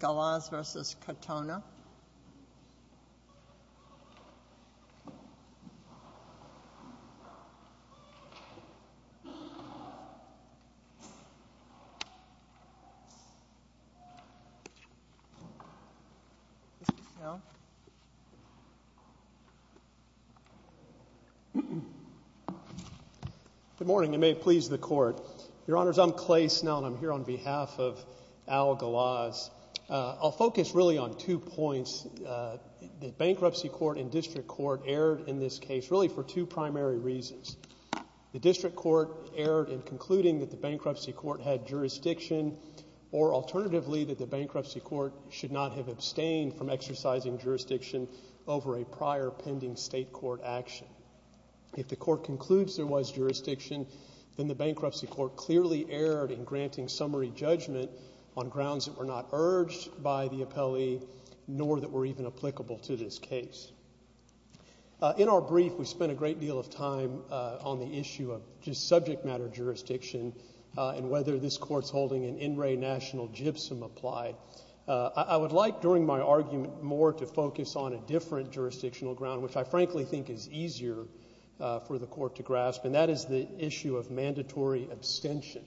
Galaz v. Katona Good morning, and may it please the Court. Your Honors, I'm Clay Snell, and I'm here on behalf of Al Galaz. I'll focus really on two points. The Bankruptcy Court and District Court erred in this case really for two primary reasons. The District Court erred in concluding that the Bankruptcy Court had jurisdiction, or alternatively, that the Bankruptcy Court should not have abstained from exercising jurisdiction over a prior pending state court action. If the Court concludes there was jurisdiction, then the Bankruptcy Court clearly erred in granting summary judgment on grounds that were not urged by the appellee, nor that were even applicable to this case. In our brief, we spent a great deal of time on the issue of just subject matter jurisdiction and whether this Court's holding an in re national gypsum applied. I would like, during my argument, more to focus on a different jurisdictional ground, which I frankly think is easier for the Court to grasp, and that is the issue of mandatory abstention.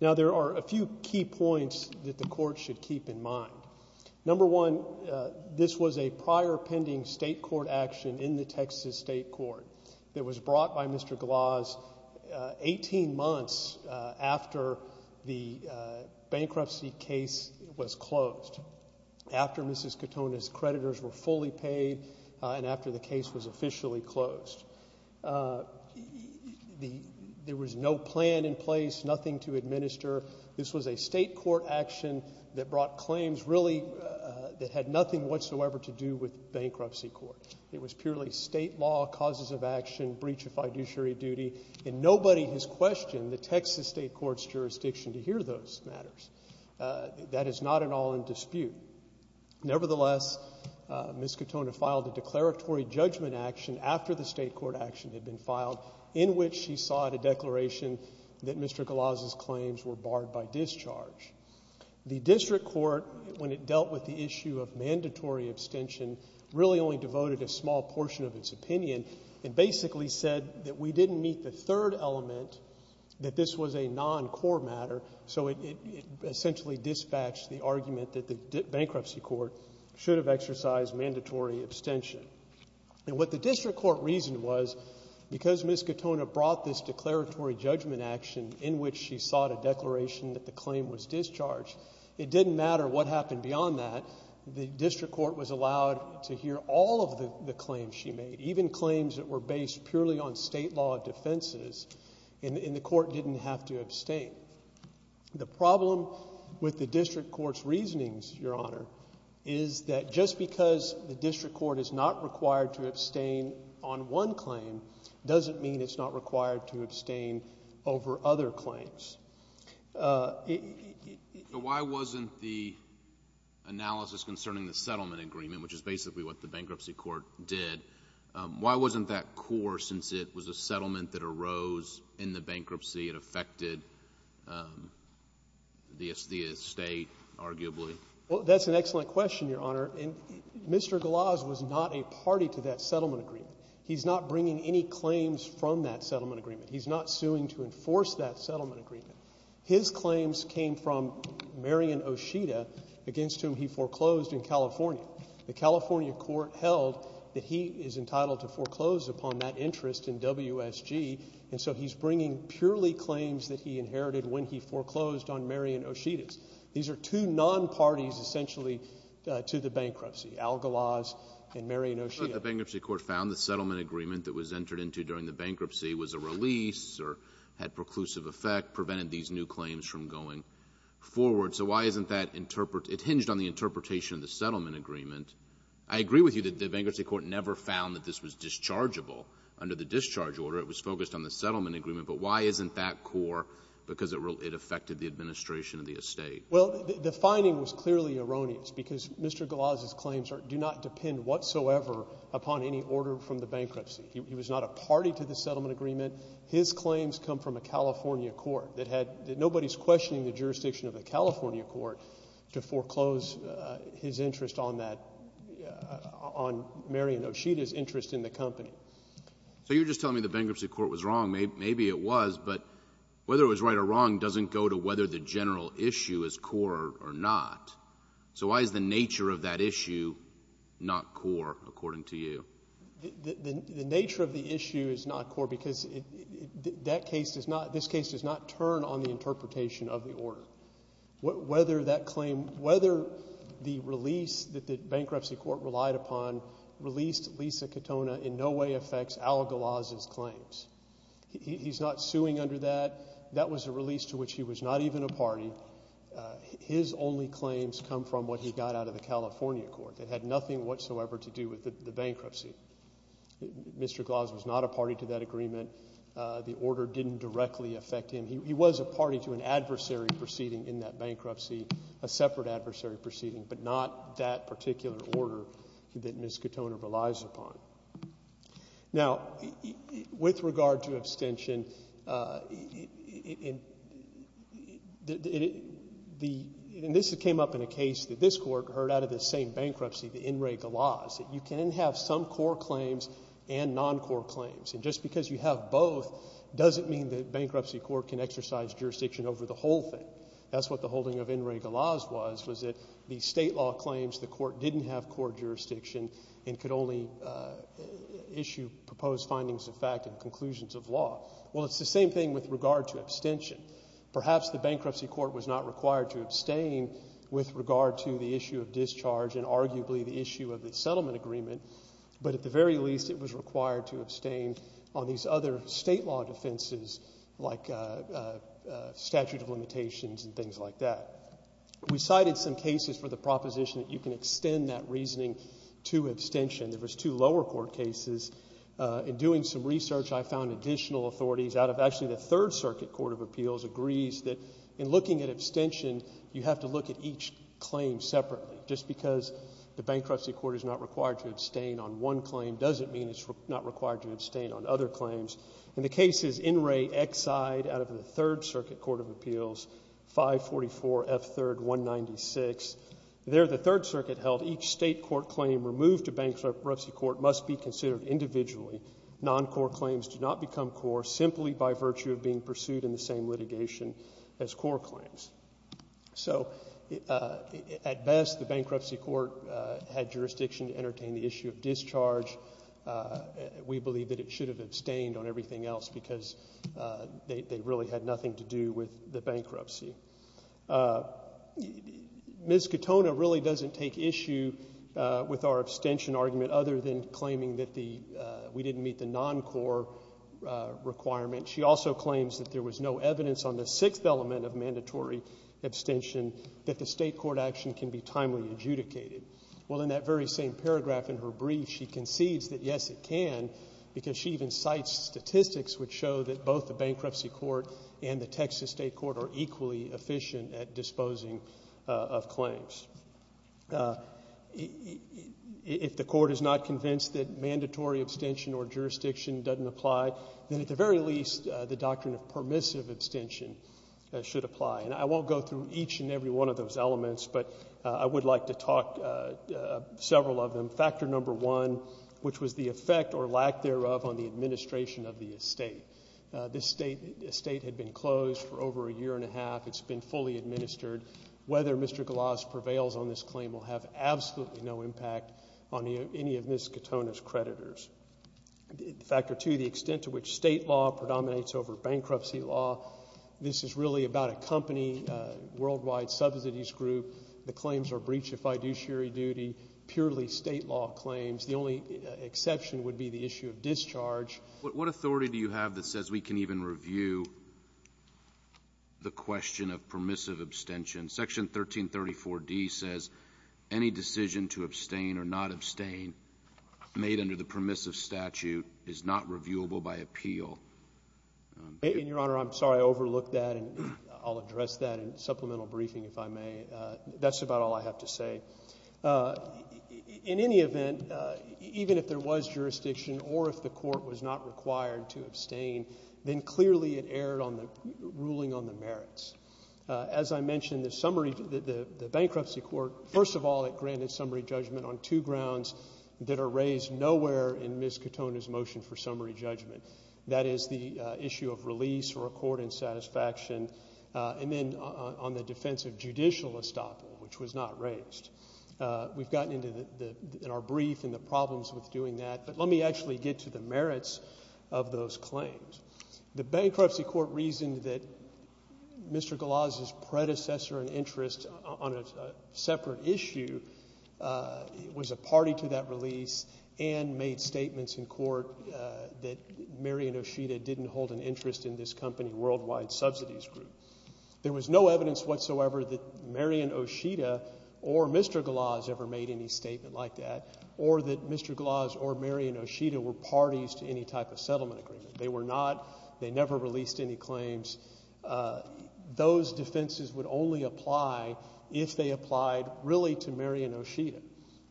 Now, there are a few key points that the Court should keep in mind. Number one, this was a prior pending state court action in the Texas state court that was brought by Mr. Galaz 18 months after the bankruptcy case was closed, after Mrs. Katona's creditors were fully paid and after the case was officially closed. There was no plan in place, nothing to administer. This was a state court action that brought claims really that had nothing whatsoever to do with Bankruptcy Court. It was purely state law, causes of action, breach of fiduciary duty, and nobody has questioned the Texas state court's jurisdiction to hear those matters. That is not at all in dispute. Nevertheless, Mrs. Katona filed a declaratory judgment action after the state court action had been filed in which she sought a declaration that Mr. Galaz's claims were barred by discharge. The district court, when it dealt with the issue of mandatory abstention, really only devoted a small portion of its opinion and basically said that we didn't meet the third element, that this was a non-core matter, so it essentially dispatched the argument that the Bankruptcy Court should have exercised mandatory abstention. And what the district court reasoned was, because Mrs. Katona brought this declaratory judgment action in which she sought a declaration that the claim was discharged, it didn't matter what happened beyond that. The district court was allowed to hear all of the claims she made, even claims that were based purely on state law defenses, and the court didn't have to abstain. The problem with the district court's reasonings, Your Honor, is that just because the district court is not required to abstain on one claim doesn't mean it's not required to abstain over other claims. Why wasn't the analysis concerning the settlement agreement, which is basically what the Bankruptcy Court said, brought that core, since it was a settlement that arose in the bankruptcy? It affected the estate, arguably? Well, that's an excellent question, Your Honor. And Mr. Glaz was not a party to that settlement agreement. He's not bringing any claims from that settlement agreement. He's not suing to enforce that settlement agreement. His claims came from Marion Oshita, against whom he foreclosed in California. The California court held that he is entitled to foreclose upon that interest in WSG, and so he's bringing purely claims that he inherited when he foreclosed on Marion Oshita's. These are two non-parties, essentially, to the bankruptcy, Algalaz and Marion Oshita. But the Bankruptcy Court found the settlement agreement that was entered into during the bankruptcy was a release or had preclusive effect, prevented these new claims from going forward. So why isn't that interpreted? It hinged on the interpretation of the settlement agreement. I agree with you that the Bankruptcy Court never found that this was dischargeable under the discharge order. It was focused on the settlement agreement. But why isn't that core? Because it affected the administration of the estate. Well, the finding was clearly erroneous, because Mr. Galaz's claims do not depend whatsoever upon any order from the bankruptcy. He was not a party to the settlement agreement. His claims come from a California court that had — that nobody's questioning the jurisdiction of a California court to foreclose his interest on that — on Marion Oshita's interest in the company. So you're just telling me the Bankruptcy Court was wrong. Maybe it was. But whether it was right or wrong doesn't go to whether the general issue is core or not. So why is the nature of that issue not core, according to you? The nature of the issue is not core, because that case does not — this case does not turn on the interpretation of the order. Whether that claim — whether the release that the Bankruptcy Court relied upon released Lisa Katona in no way affects Al Galaz's claims. He's not suing under that. That was a release to which he was not even a party. His only claims come from what he got out of the California court. It had nothing whatsoever to do with the bankruptcy. Mr. Galaz was not a party to that agreement. The order didn't directly affect him. He was a party to an adversary proceeding in that bankruptcy, a separate adversary proceeding, but not that particular order that Ms. Katona relies upon. Now with regard to abstention, the — and this came up in a case that this court heard out of this same bankruptcy, the In re Galaz, that you can have some core claims and non-core claims. And just because you have both doesn't mean the Bankruptcy Court can exercise jurisdiction over the whole thing. That's what the holding of In re Galaz was, was that the state law claims the court didn't have core jurisdiction and could only issue proposed findings of fact and conclusions of law. Well, it's the same thing with regard to abstention. Perhaps the Bankruptcy Court was not required to abstain with regard to the issue of discharge and arguably the issue of the settlement agreement, but at the very least it was required to abstain on these other state law defenses like statute of limitations and things like that. We cited some cases for the proposition that you can extend that reasoning to abstention. There was two lower court cases. In doing some research, I found additional authorities out of — actually, the Third Circuit Court of Appeals agrees that in looking at abstention, you have to look at each claim separately. Just because the Bankruptcy Court is not required to abstain on one claim doesn't mean it's not required to abstain on other claims. In the cases In re Exide out of the Third Circuit Court of Appeals, 544 F. 3rd 196, there the Third Circuit held each state court claim removed to Bankruptcy Court must be by virtue of being pursued in the same litigation as core claims. So at best, the Bankruptcy Court had jurisdiction to entertain the issue of discharge. We believe that it should have abstained on everything else because they really had nothing to do with the bankruptcy. Ms. Katona really doesn't take issue with our abstention argument other than claiming that we didn't meet the non-core requirement. She also claims that there was no evidence on the sixth element of mandatory abstention that the state court action can be timely adjudicated. Well, in that very same paragraph in her brief, she concedes that, yes, it can because she even cites statistics which show that both the Bankruptcy Court and the Texas State Court are equally efficient at disposing of claims. If the court is not convinced that mandatory abstention or jurisdiction doesn't apply, then at the very least, the doctrine of permissive abstention should apply. And I won't go through each and every one of those elements, but I would like to talk several of them. Factor number one, which was the effect or lack thereof on the administration of the estate. This estate had been closed for over a year and a half. It's been fully administered. Whether Mr. Golas prevails on this claim will have absolutely no impact on any of Ms. Katona's creditors. Factor two, the extent to which state law predominates over bankruptcy law. This is really about a company, a worldwide subsidies group. The claims are breach of fiduciary duty, purely state law claims. The only exception would be the issue of discharge. What authority do you have that says we can even review the question of permissive abstention? Section 1334D says any decision to abstain or not abstain made under the permissive statute is not reviewable by appeal. And Your Honor, I'm sorry I overlooked that and I'll address that in supplemental briefing if I may. That's about all I have to say. In any event, even if there was jurisdiction or if the court was not required to abstain, then clearly it erred on the ruling on the merits. As I mentioned, the bankruptcy court, first of all, it granted summary judgment on two grounds that are raised nowhere in Ms. Katona's motion for summary judgment. That is the issue of release or accord in satisfaction and then on the defense of judicial estoppel, which was not raised. We've gotten into in our brief and the problems with doing that, but let me actually get to the merits of those claims. The bankruptcy court reasoned that Mr. Glaz's predecessor and interest on a separate issue was a party to that release and made statements in court that Marion Oshita didn't hold an interest in this company Worldwide Subsidies Group. There was no evidence whatsoever that Marion Oshita were parties to any type of settlement agreement. They were not. They never released any claims. Those defenses would only apply if they applied really to Marion Oshita.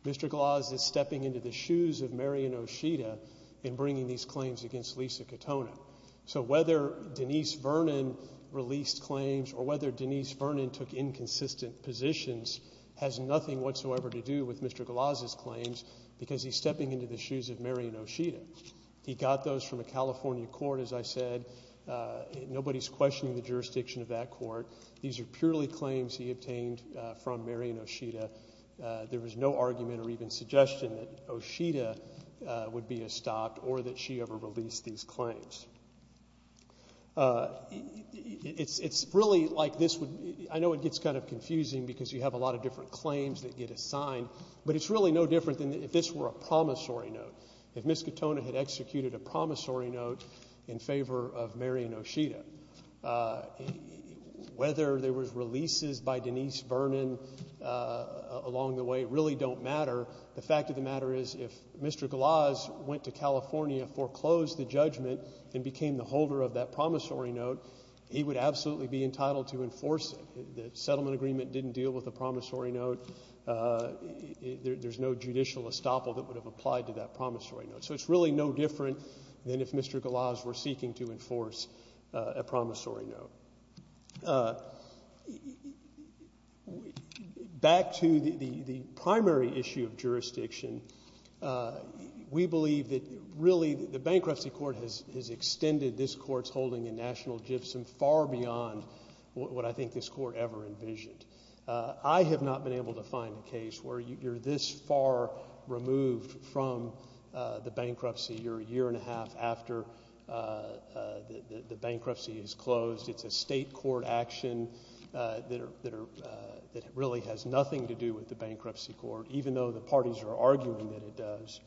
Mr. Glaz is stepping into the shoes of Marion Oshita in bringing these claims against Lisa Katona. So whether Denise Vernon released claims or whether Denise Vernon took inconsistent positions has nothing whatsoever to do with Mr. Glaz's claims because he's in the shoes of Marion Oshita. He got those from a California court, as I said. Nobody's questioning the jurisdiction of that court. These are purely claims he obtained from Marion Oshita. There was no argument or even suggestion that Oshita would be estopped or that she ever released these claims. It's really like this would be. I know it gets kind of confusing because you have a lot of different claims that get assigned, but it's really no different than if this were a promissory note, if Ms. Katona had executed a promissory note in favor of Marion Oshita. Whether there were releases by Denise Vernon along the way really don't matter. The fact of the matter is if Mr. Glaz went to California, foreclosed the judgment, and became the holder of that promissory note, he would absolutely be entitled to enforce it. The settlement agreement didn't deal with a promissory note. There's no judicial estoppel that would have applied to that promissory note. So it's really no different than if Mr. Glaz were seeking to enforce a promissory note. Back to the primary issue of jurisdiction, we believe that really the bankruptcy court has extended this court's holding in National Gibson far beyond what I think this court ever envisioned. I have not been able to find a case where you're this far removed from the bankruptcy. You're a year and a half after the bankruptcy is closed. It's a state court action that really has nothing to do with the bankruptcy court, even though the parties are arguing that it does.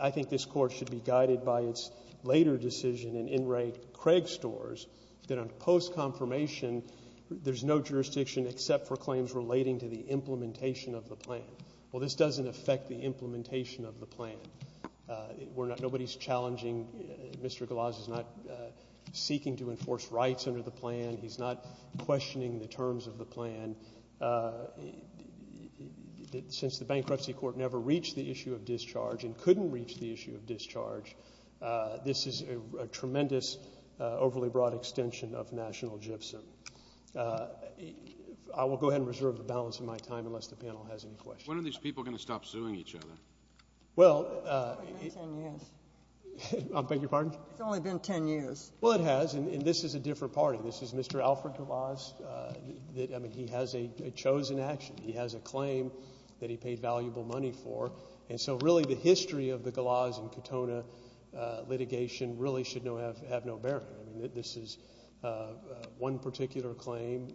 I think this court should be guided by its later decision in Enright-Craig stores that on post-confirmation, there's no jurisdiction except for claims relating to the implementation of the plan. Well, this doesn't affect the implementation of the plan. Nobody's challenging. Mr. Glaz is not seeking to enforce rights under the plan. He's not questioning the terms of the plan. Since the bankruptcy court never reached the issue of discharge and couldn't reach the issue of discharge, this is a tremendous, overly broad extension of National Gibson. I will go ahead and reserve the balance of my time unless the panel has any questions. When are these people going to stop suing each other? Well, it's only been ten years. Well, it has, and this is a different party. This is Mr. Alfred Glaz. I mean, he has a chosen action. He has a claim that he paid valuable money for, and so really the history of the Glaz and Katona litigation really should have no bearing. I mean, this is one particular claim,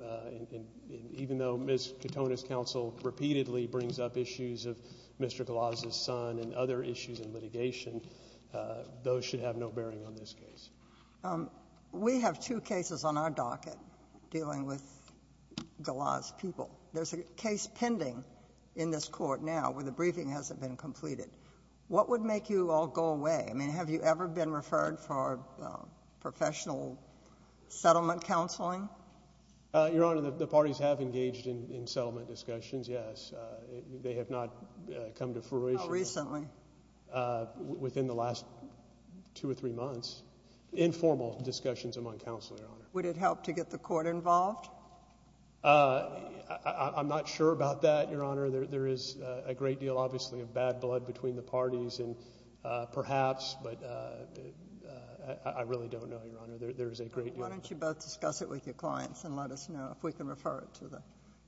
and even though Ms. Katona's counsel repeatedly brings up issues of Mr. Glaz's son and other issues in litigation, those should have no bearing on this case. We have two cases on our docket dealing with now where the briefing hasn't been completed. What would make you all go away? I mean, have you ever been referred for professional settlement counseling? Your Honor, the parties have engaged in settlement discussions, yes. They have not come to fruition. How recently? Within the last two or three months. Informal discussions among counsel, Your Honor. Would it help to a great deal, obviously, of bad blood between the parties, and perhaps, but I really don't know, Your Honor. There is a great deal. Why don't you both discuss it with your clients and let us know if we can refer it to the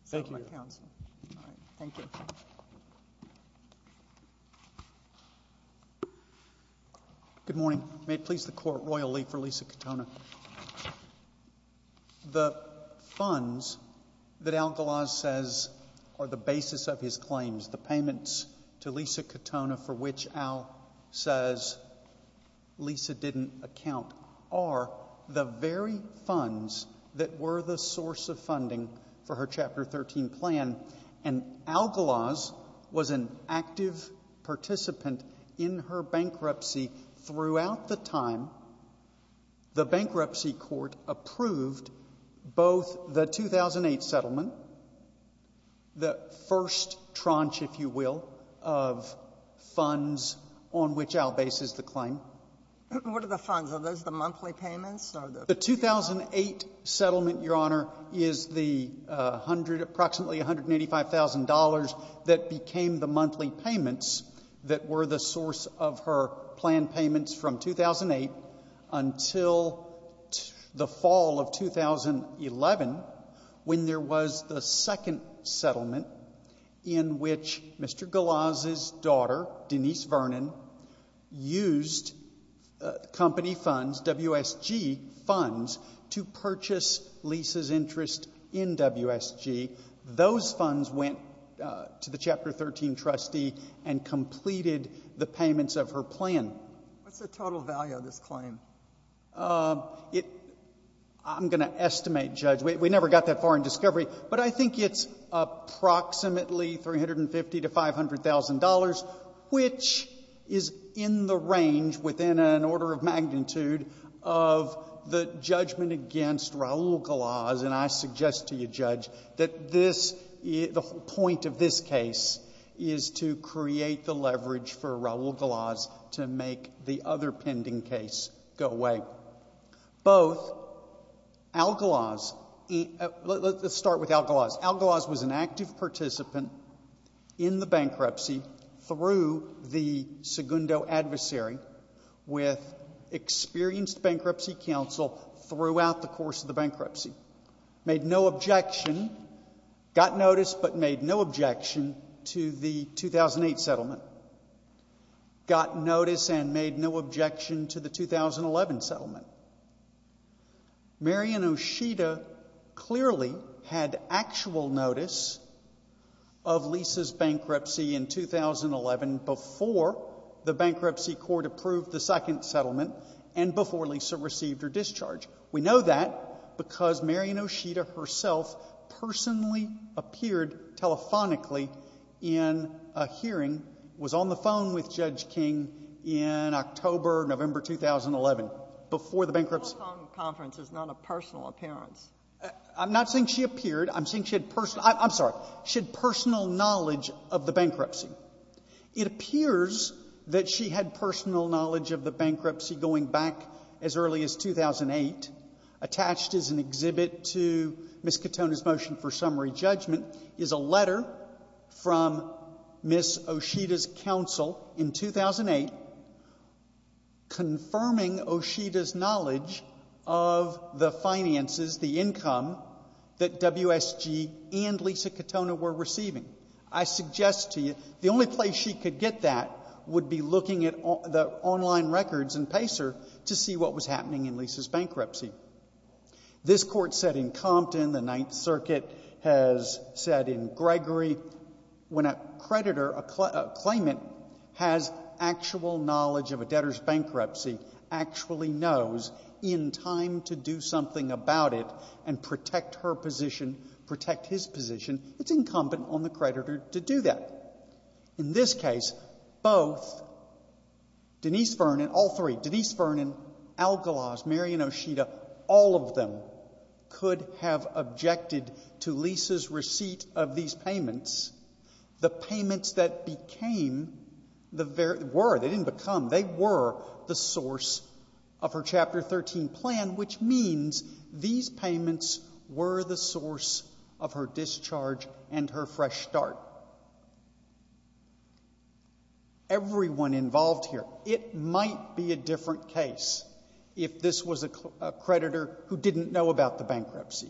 settlement counsel. Thank you, Your Honor. All right. Thank you. Good morning. May it please the Court, Royal League for Lisa Katona. The funds that Al Glaz says are the basis of his claims, the payments to Lisa Katona for which Al says Lisa didn't account, are the very funds that were the source of funding for her Chapter 13 plan, and Al Glaz was an active participant in her bankruptcy throughout the time. The bankruptcy court approved both the 2008 settlement, the first tranche, if you will, of funds on which Al bases the claim. What are the funds? Are those the monthly payments or the ---- The 2008 settlement, Your Honor, is the approximately $185,000 that became the monthly payments that were the source of her plan payments from 2008 until the fall of 2011 when there was the second settlement in which Mr. Glaz's daughter, Denise Vernon, used company funds, WSG funds, to purchase Lisa's interest in WSG. Those funds went to the Chapter 13 trustee and completed the payments of her plan. What's the total value of this claim? It ---- I'm going to estimate, Judge. We never got that far in discovery. But I think it's approximately $350,000 to $500,000, which is in the range within an order of magnitude of the judgment against Raul Glaz, and I suggest to you, Judge, that this ---- the point of this case is to create the leverage for Raul Glaz to make the other pending case go away. Both Al Glaz ---- let's start with Al Glaz. Al Glaz was an active participant in the bankruptcy through the Segundo adversary with experienced bankruptcy counsel throughout the course of the settlement. Got notice but made no objection to the 2008 settlement. Got notice and made no objection to the 2011 settlement. Mary Ann Oshita clearly had actual notice of Lisa's bankruptcy in 2011 before the bankruptcy court approved the second settlement and before Lisa received her discharge. We know that because Mary Ann Oshita herself personally appeared telephonically in a hearing, was on the phone with Judge King in October, November 2011, before the bankruptcy ---- The telephone conference is not a personal appearance. I'm not saying she appeared. I'm saying she had personal ---- I'm sorry. She had personal knowledge of the bankruptcy. It appears that she had personal knowledge of the bankruptcy going back as early as 2008. Attached is an exhibit to Ms. Katona's motion for summary judgment, is a letter from Ms. Oshita's counsel in 2008 confirming Oshita's knowledge of the finances, the income, that WSG and Lisa Katona were receiving. I suggest to you the only place she could get that would be looking at the online records in Pacer to see what was happening in Lisa's bankruptcy. This Court said in Compton, the Ninth Circuit has said in Gregory, when a creditor, a claimant, has actual knowledge of a debtor's bankruptcy, actually knows in time to do something about it and protect her position, protect his position, it's incumbent on the creditor to do that. In this case, both Denise Vernon, all three, Denise Vernon, Algalaz, Mary and Oshita, all of them could have objected to Lisa's receipt of these payments, the payments that became the very ---- were, they didn't become, they were the source of her Chapter 13 plan, which means these payments were the source of her discharge and her fresh start. Everyone involved here, it might be a different case if this was a creditor who didn't know about the bankruptcy.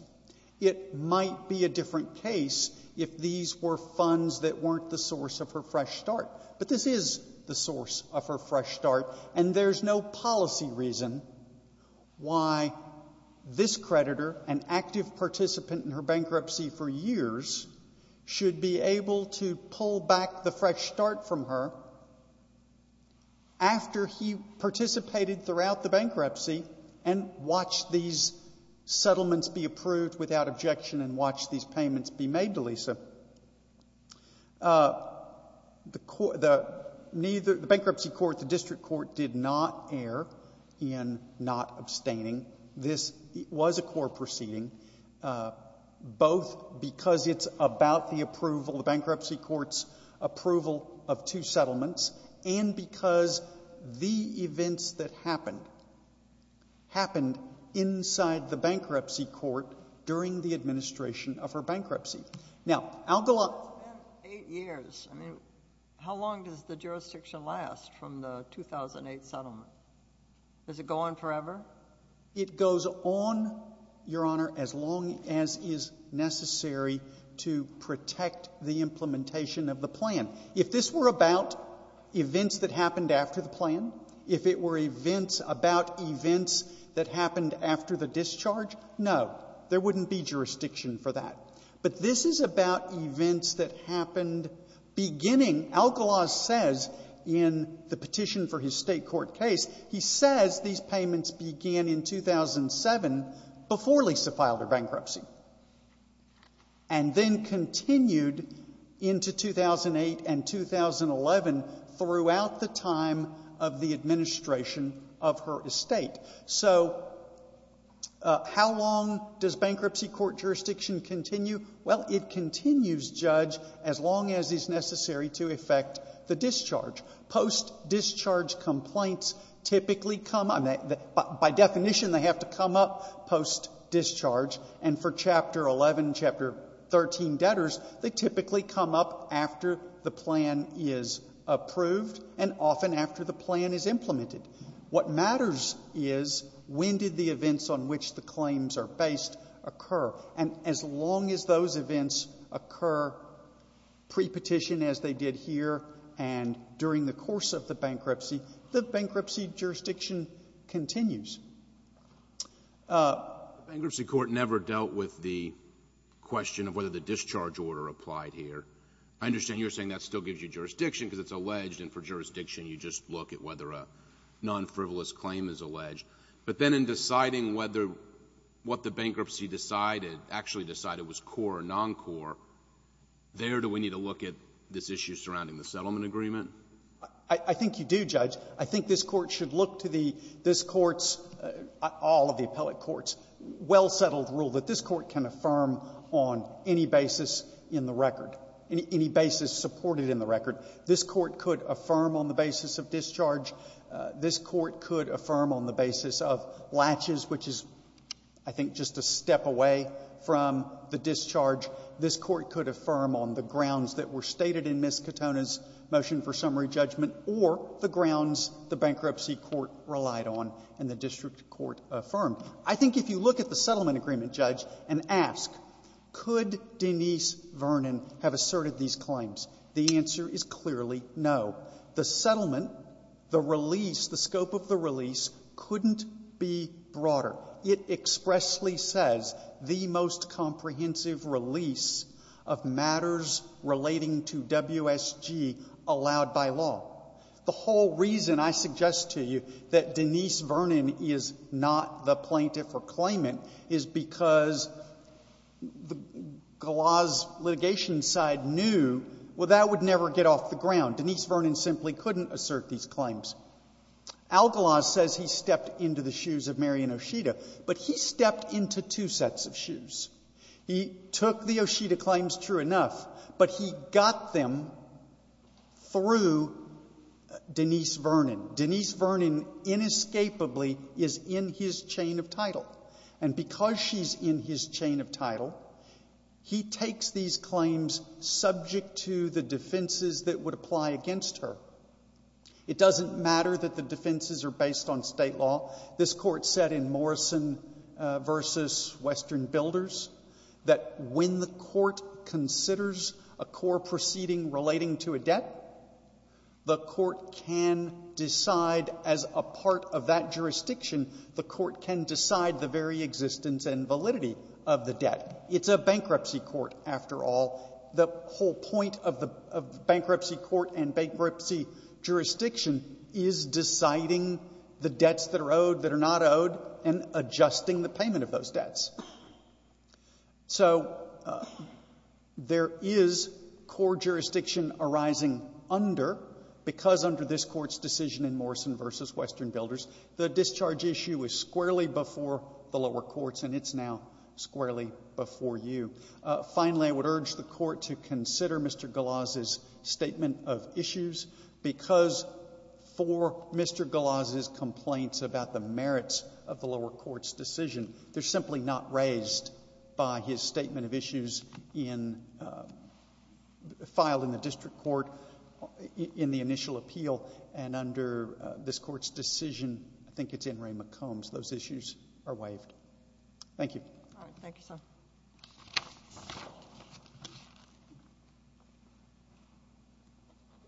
It might be a different case if these were funds that weren't the source of her fresh start. But this is the source of her fresh start, and there's no policy reason why this creditor, an active participant in her bankruptcy for years, should be able to pull back the fresh start from her after he participated throughout the bankruptcy and watch these settlements be approved without objection and watch these payments be made to Lisa. The bankruptcy court, the district court, did not err in not abstaining. This was a court proceeding. Both Denise Vernon and Algalaz because it's about the approval, the bankruptcy court's approval of two settlements, and because the events that happened, happened inside the bankruptcy court during the administration of her bankruptcy. Now, Algalaz ---- It's been eight years. I mean, how long does the jurisdiction last from the 2008 settlement? Does it go on forever? It goes on, Your Honor, as long as is necessary to protect the implementation of the plan. If this were about events that happened after the plan, if it were events about events that happened after the discharge, no, there wouldn't be jurisdiction for that. But this is about events that happened beginning, Algalaz says in the petition for his State court case, he says these payments began in 2007 before Lisa filed her bankruptcy and then continued into 2008 and 2011 throughout the time of the administration of her estate. So how long does bankruptcy court jurisdiction continue? Well, it continues, Judge, as long as is necessary to effect the discharge. Post-discharge complaints typically come up. By definition, they have to come up post-discharge. And for Chapter 11, Chapter 13 debtors, they typically come up after the plan is approved and often after the plan is implemented. What matters is when did the events on which the claims are based occur. And as long as those events occur pre-petition as they did here and during the course of the bankruptcy, the bankruptcy jurisdiction continues. The bankruptcy court never dealt with the question of whether the discharge order applied here. I understand you're saying that still gives you jurisdiction because it's alleged and for jurisdiction you just look at whether a non-frivolous claim is alleged. But then deciding whether what the bankruptcy decided, actually decided was core or non-core, there do we need to look at this issue surrounding the settlement agreement? I think you do, Judge. I think this Court should look to the — this Court's — all of the appellate courts' well-settled rule that this Court can affirm on any basis in the record, any basis supported in the record. This Court could affirm on the basis of discharge. This Court could affirm on the basis of latches, which is, I think, just a step away from the discharge. This Court could affirm on the grounds that were stated in Ms. Katona's motion for summary judgment or the grounds the bankruptcy court relied on and the district court affirmed. I think if you look at the settlement agreement, Judge, and ask, could Denise Vernon have asserted these claims? The answer is clearly no. The settlement, the release, the scope of the release, couldn't be broader. It expressly says the most comprehensive release of matters relating to WSG allowed by law. The whole reason I suggest to you that Denise Vernon is not the plaintiff or claimant is because the law's litigation side knew, well, that would never get off the ground. Denise Vernon simply couldn't assert these claims. Algalaz says he stepped into the shoes of Mary and Oshita, but he stepped into two sets of shoes. He took the Oshita claims, true enough, but he got them through Denise Vernon. Denise Vernon inescapably is in his chain of title. And because she's in his chain of title, he takes these claims subject to the defenses that would apply against her. It doesn't matter that the defenses are based on state law. This court said in Morrison v. Western Builders that when the court considers a core proceeding relating to a debt, the court can decide as a part of that jurisdiction, the court can decide the very existence and the debt. It's a bankruptcy court, after all. The whole point of the bankruptcy court and bankruptcy jurisdiction is deciding the debts that are owed, that are not owed, and adjusting the payment of those debts. So there is core jurisdiction arising under, because under this Court's decision in Morrison v. Western Builders, the discharge issue is squarely before the lower courts, and it's now squarely before you. Finally, I would urge the court to consider Mr. Galoz's statement of issues, because for Mr. Galoz's complaints about the merits of the lower court's decision, they're simply not raised by his statement of issues filed in the district court in the initial appeal. And under this Court's decision, I think it's in Ray McCombs, those issues are waived. Thank you. All right. Thank you,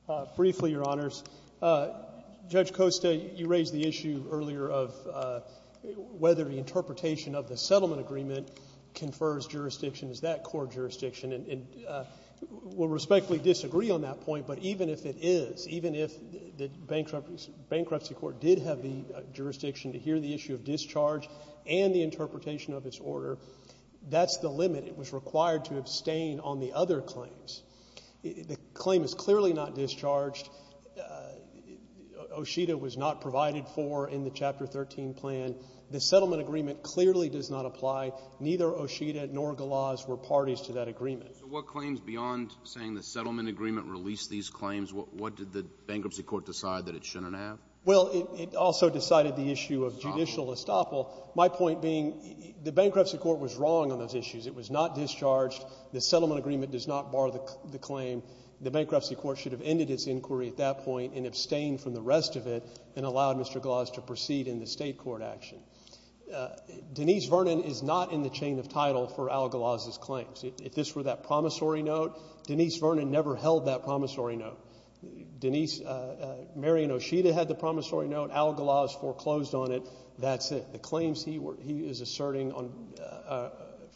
sir. Briefly, Your Honors, Judge Costa, you raised the issue earlier of whether the interpretation of the settlement agreement confers jurisdiction as that core jurisdiction, and we'll respectfully disagree on that point, but even if it is, even if the bankruptcy court did have the jurisdiction to hear the issue of discharge and the interpretation of its order, that's the limit. It was required to abstain on the other claims. The claim is clearly not discharged. Oshita was not provided for in the Chapter 13 plan. The settlement agreement clearly does not apply. Neither Oshita nor Galoz were parties to that agreement. So what claims beyond saying the settlement agreement released these claims, what did the bankruptcy court decide that it shouldn't have? Well, it also decided the issue of judicial estoppel, my point being the bankruptcy court was wrong on those issues. It was not discharged. The settlement agreement does not bar the claim. The bankruptcy court should have ended its inquiry at that point and abstained from the rest of it and allowed Mr. Galoz to proceed in the state court action. Denise Vernon is not in the chain of title for Al Galoz's claims. If this were that promissory note, Denise Vernon never held that promissory note. Mary and Oshita had the promissory note. Al Galoz foreclosed on it. That's it. The claims he is asserting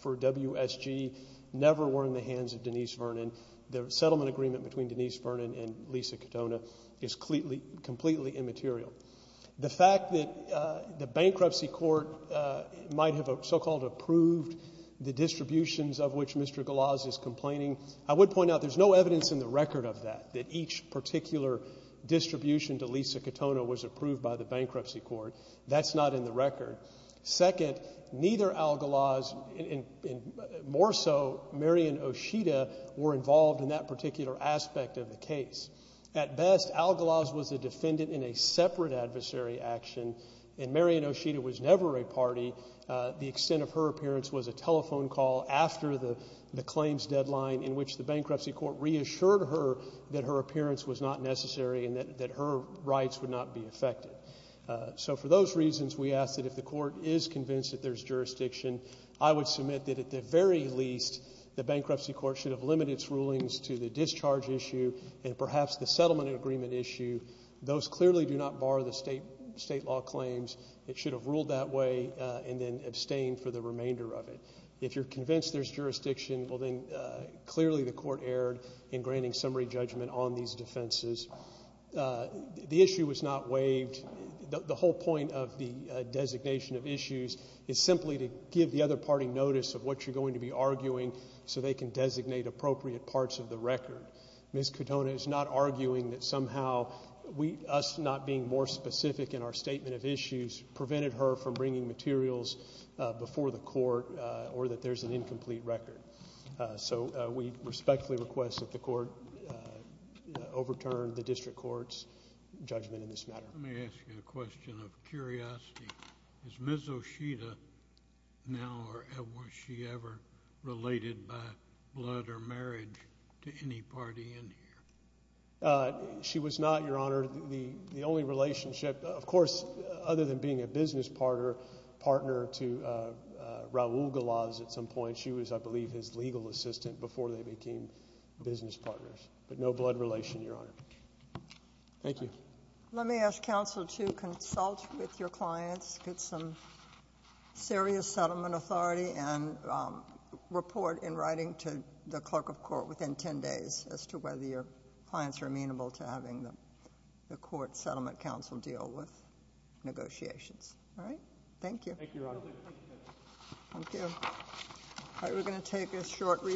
for WSG never were in the hands of Denise Vernon. The settlement agreement between Denise Vernon and Lisa Katona is completely immaterial. The fact that the bankruptcy court might have so-called approved the distributions of which Mr. Galoz is complaining, I would point out there's no evidence in the record of that, that each particular distribution to Lisa Katona was approved by the bankruptcy court. That's not in the record. Second, neither Al Galoz and more so Mary and Oshita were involved in that particular aspect of the case. At best, Al Galoz was a defendant in a separate adversary action, and Mary and Oshita was never a party. The extent of her appearance was a telephone call after the claims deadline in which the bankruptcy court reassured her that her appearance was not necessary and that her rights would not be affected. So for those reasons, we ask that if the court is convinced that there's jurisdiction, I would submit that at the very least, the bankruptcy court should have limited its rulings to the discharge issue and perhaps the settlement agreement issue. Those clearly do not bar the state law claims. It should have ruled that way and then abstained for the remainder of it. If you're convinced there's jurisdiction, well then clearly the court erred in granting summary judgment on these defenses. The issue was not waived. The whole point of the designation of issues is simply to give the other party notice of what you're going to be arguing so they can designate appropriate parts of the being more specific in our statement of issues prevented her from bringing materials before the court or that there's an incomplete record. So we respectfully request that the court overturn the district court's judgment in this matter. Let me ask you a question of curiosity. Is Ms. Oshita now or was she ever related by blood or marriage to any party in here? She was not, Your Honor. The only relationship, of course, other than being a business partner to Raul Galaz at some point, she was, I believe, his legal assistant before they became business partners. But no blood relation, Your Honor. Thank you. Let me ask counsel to consult with your clients, get some serious settlement authority and report in writing to the clerk of court within 10 days as to whether your clients are amenable to having the court settlement counsel deal with negotiations. All right? Thank you. Thank you, Your Honor. Thank you. Thank you. All right. We're going to take a short recess.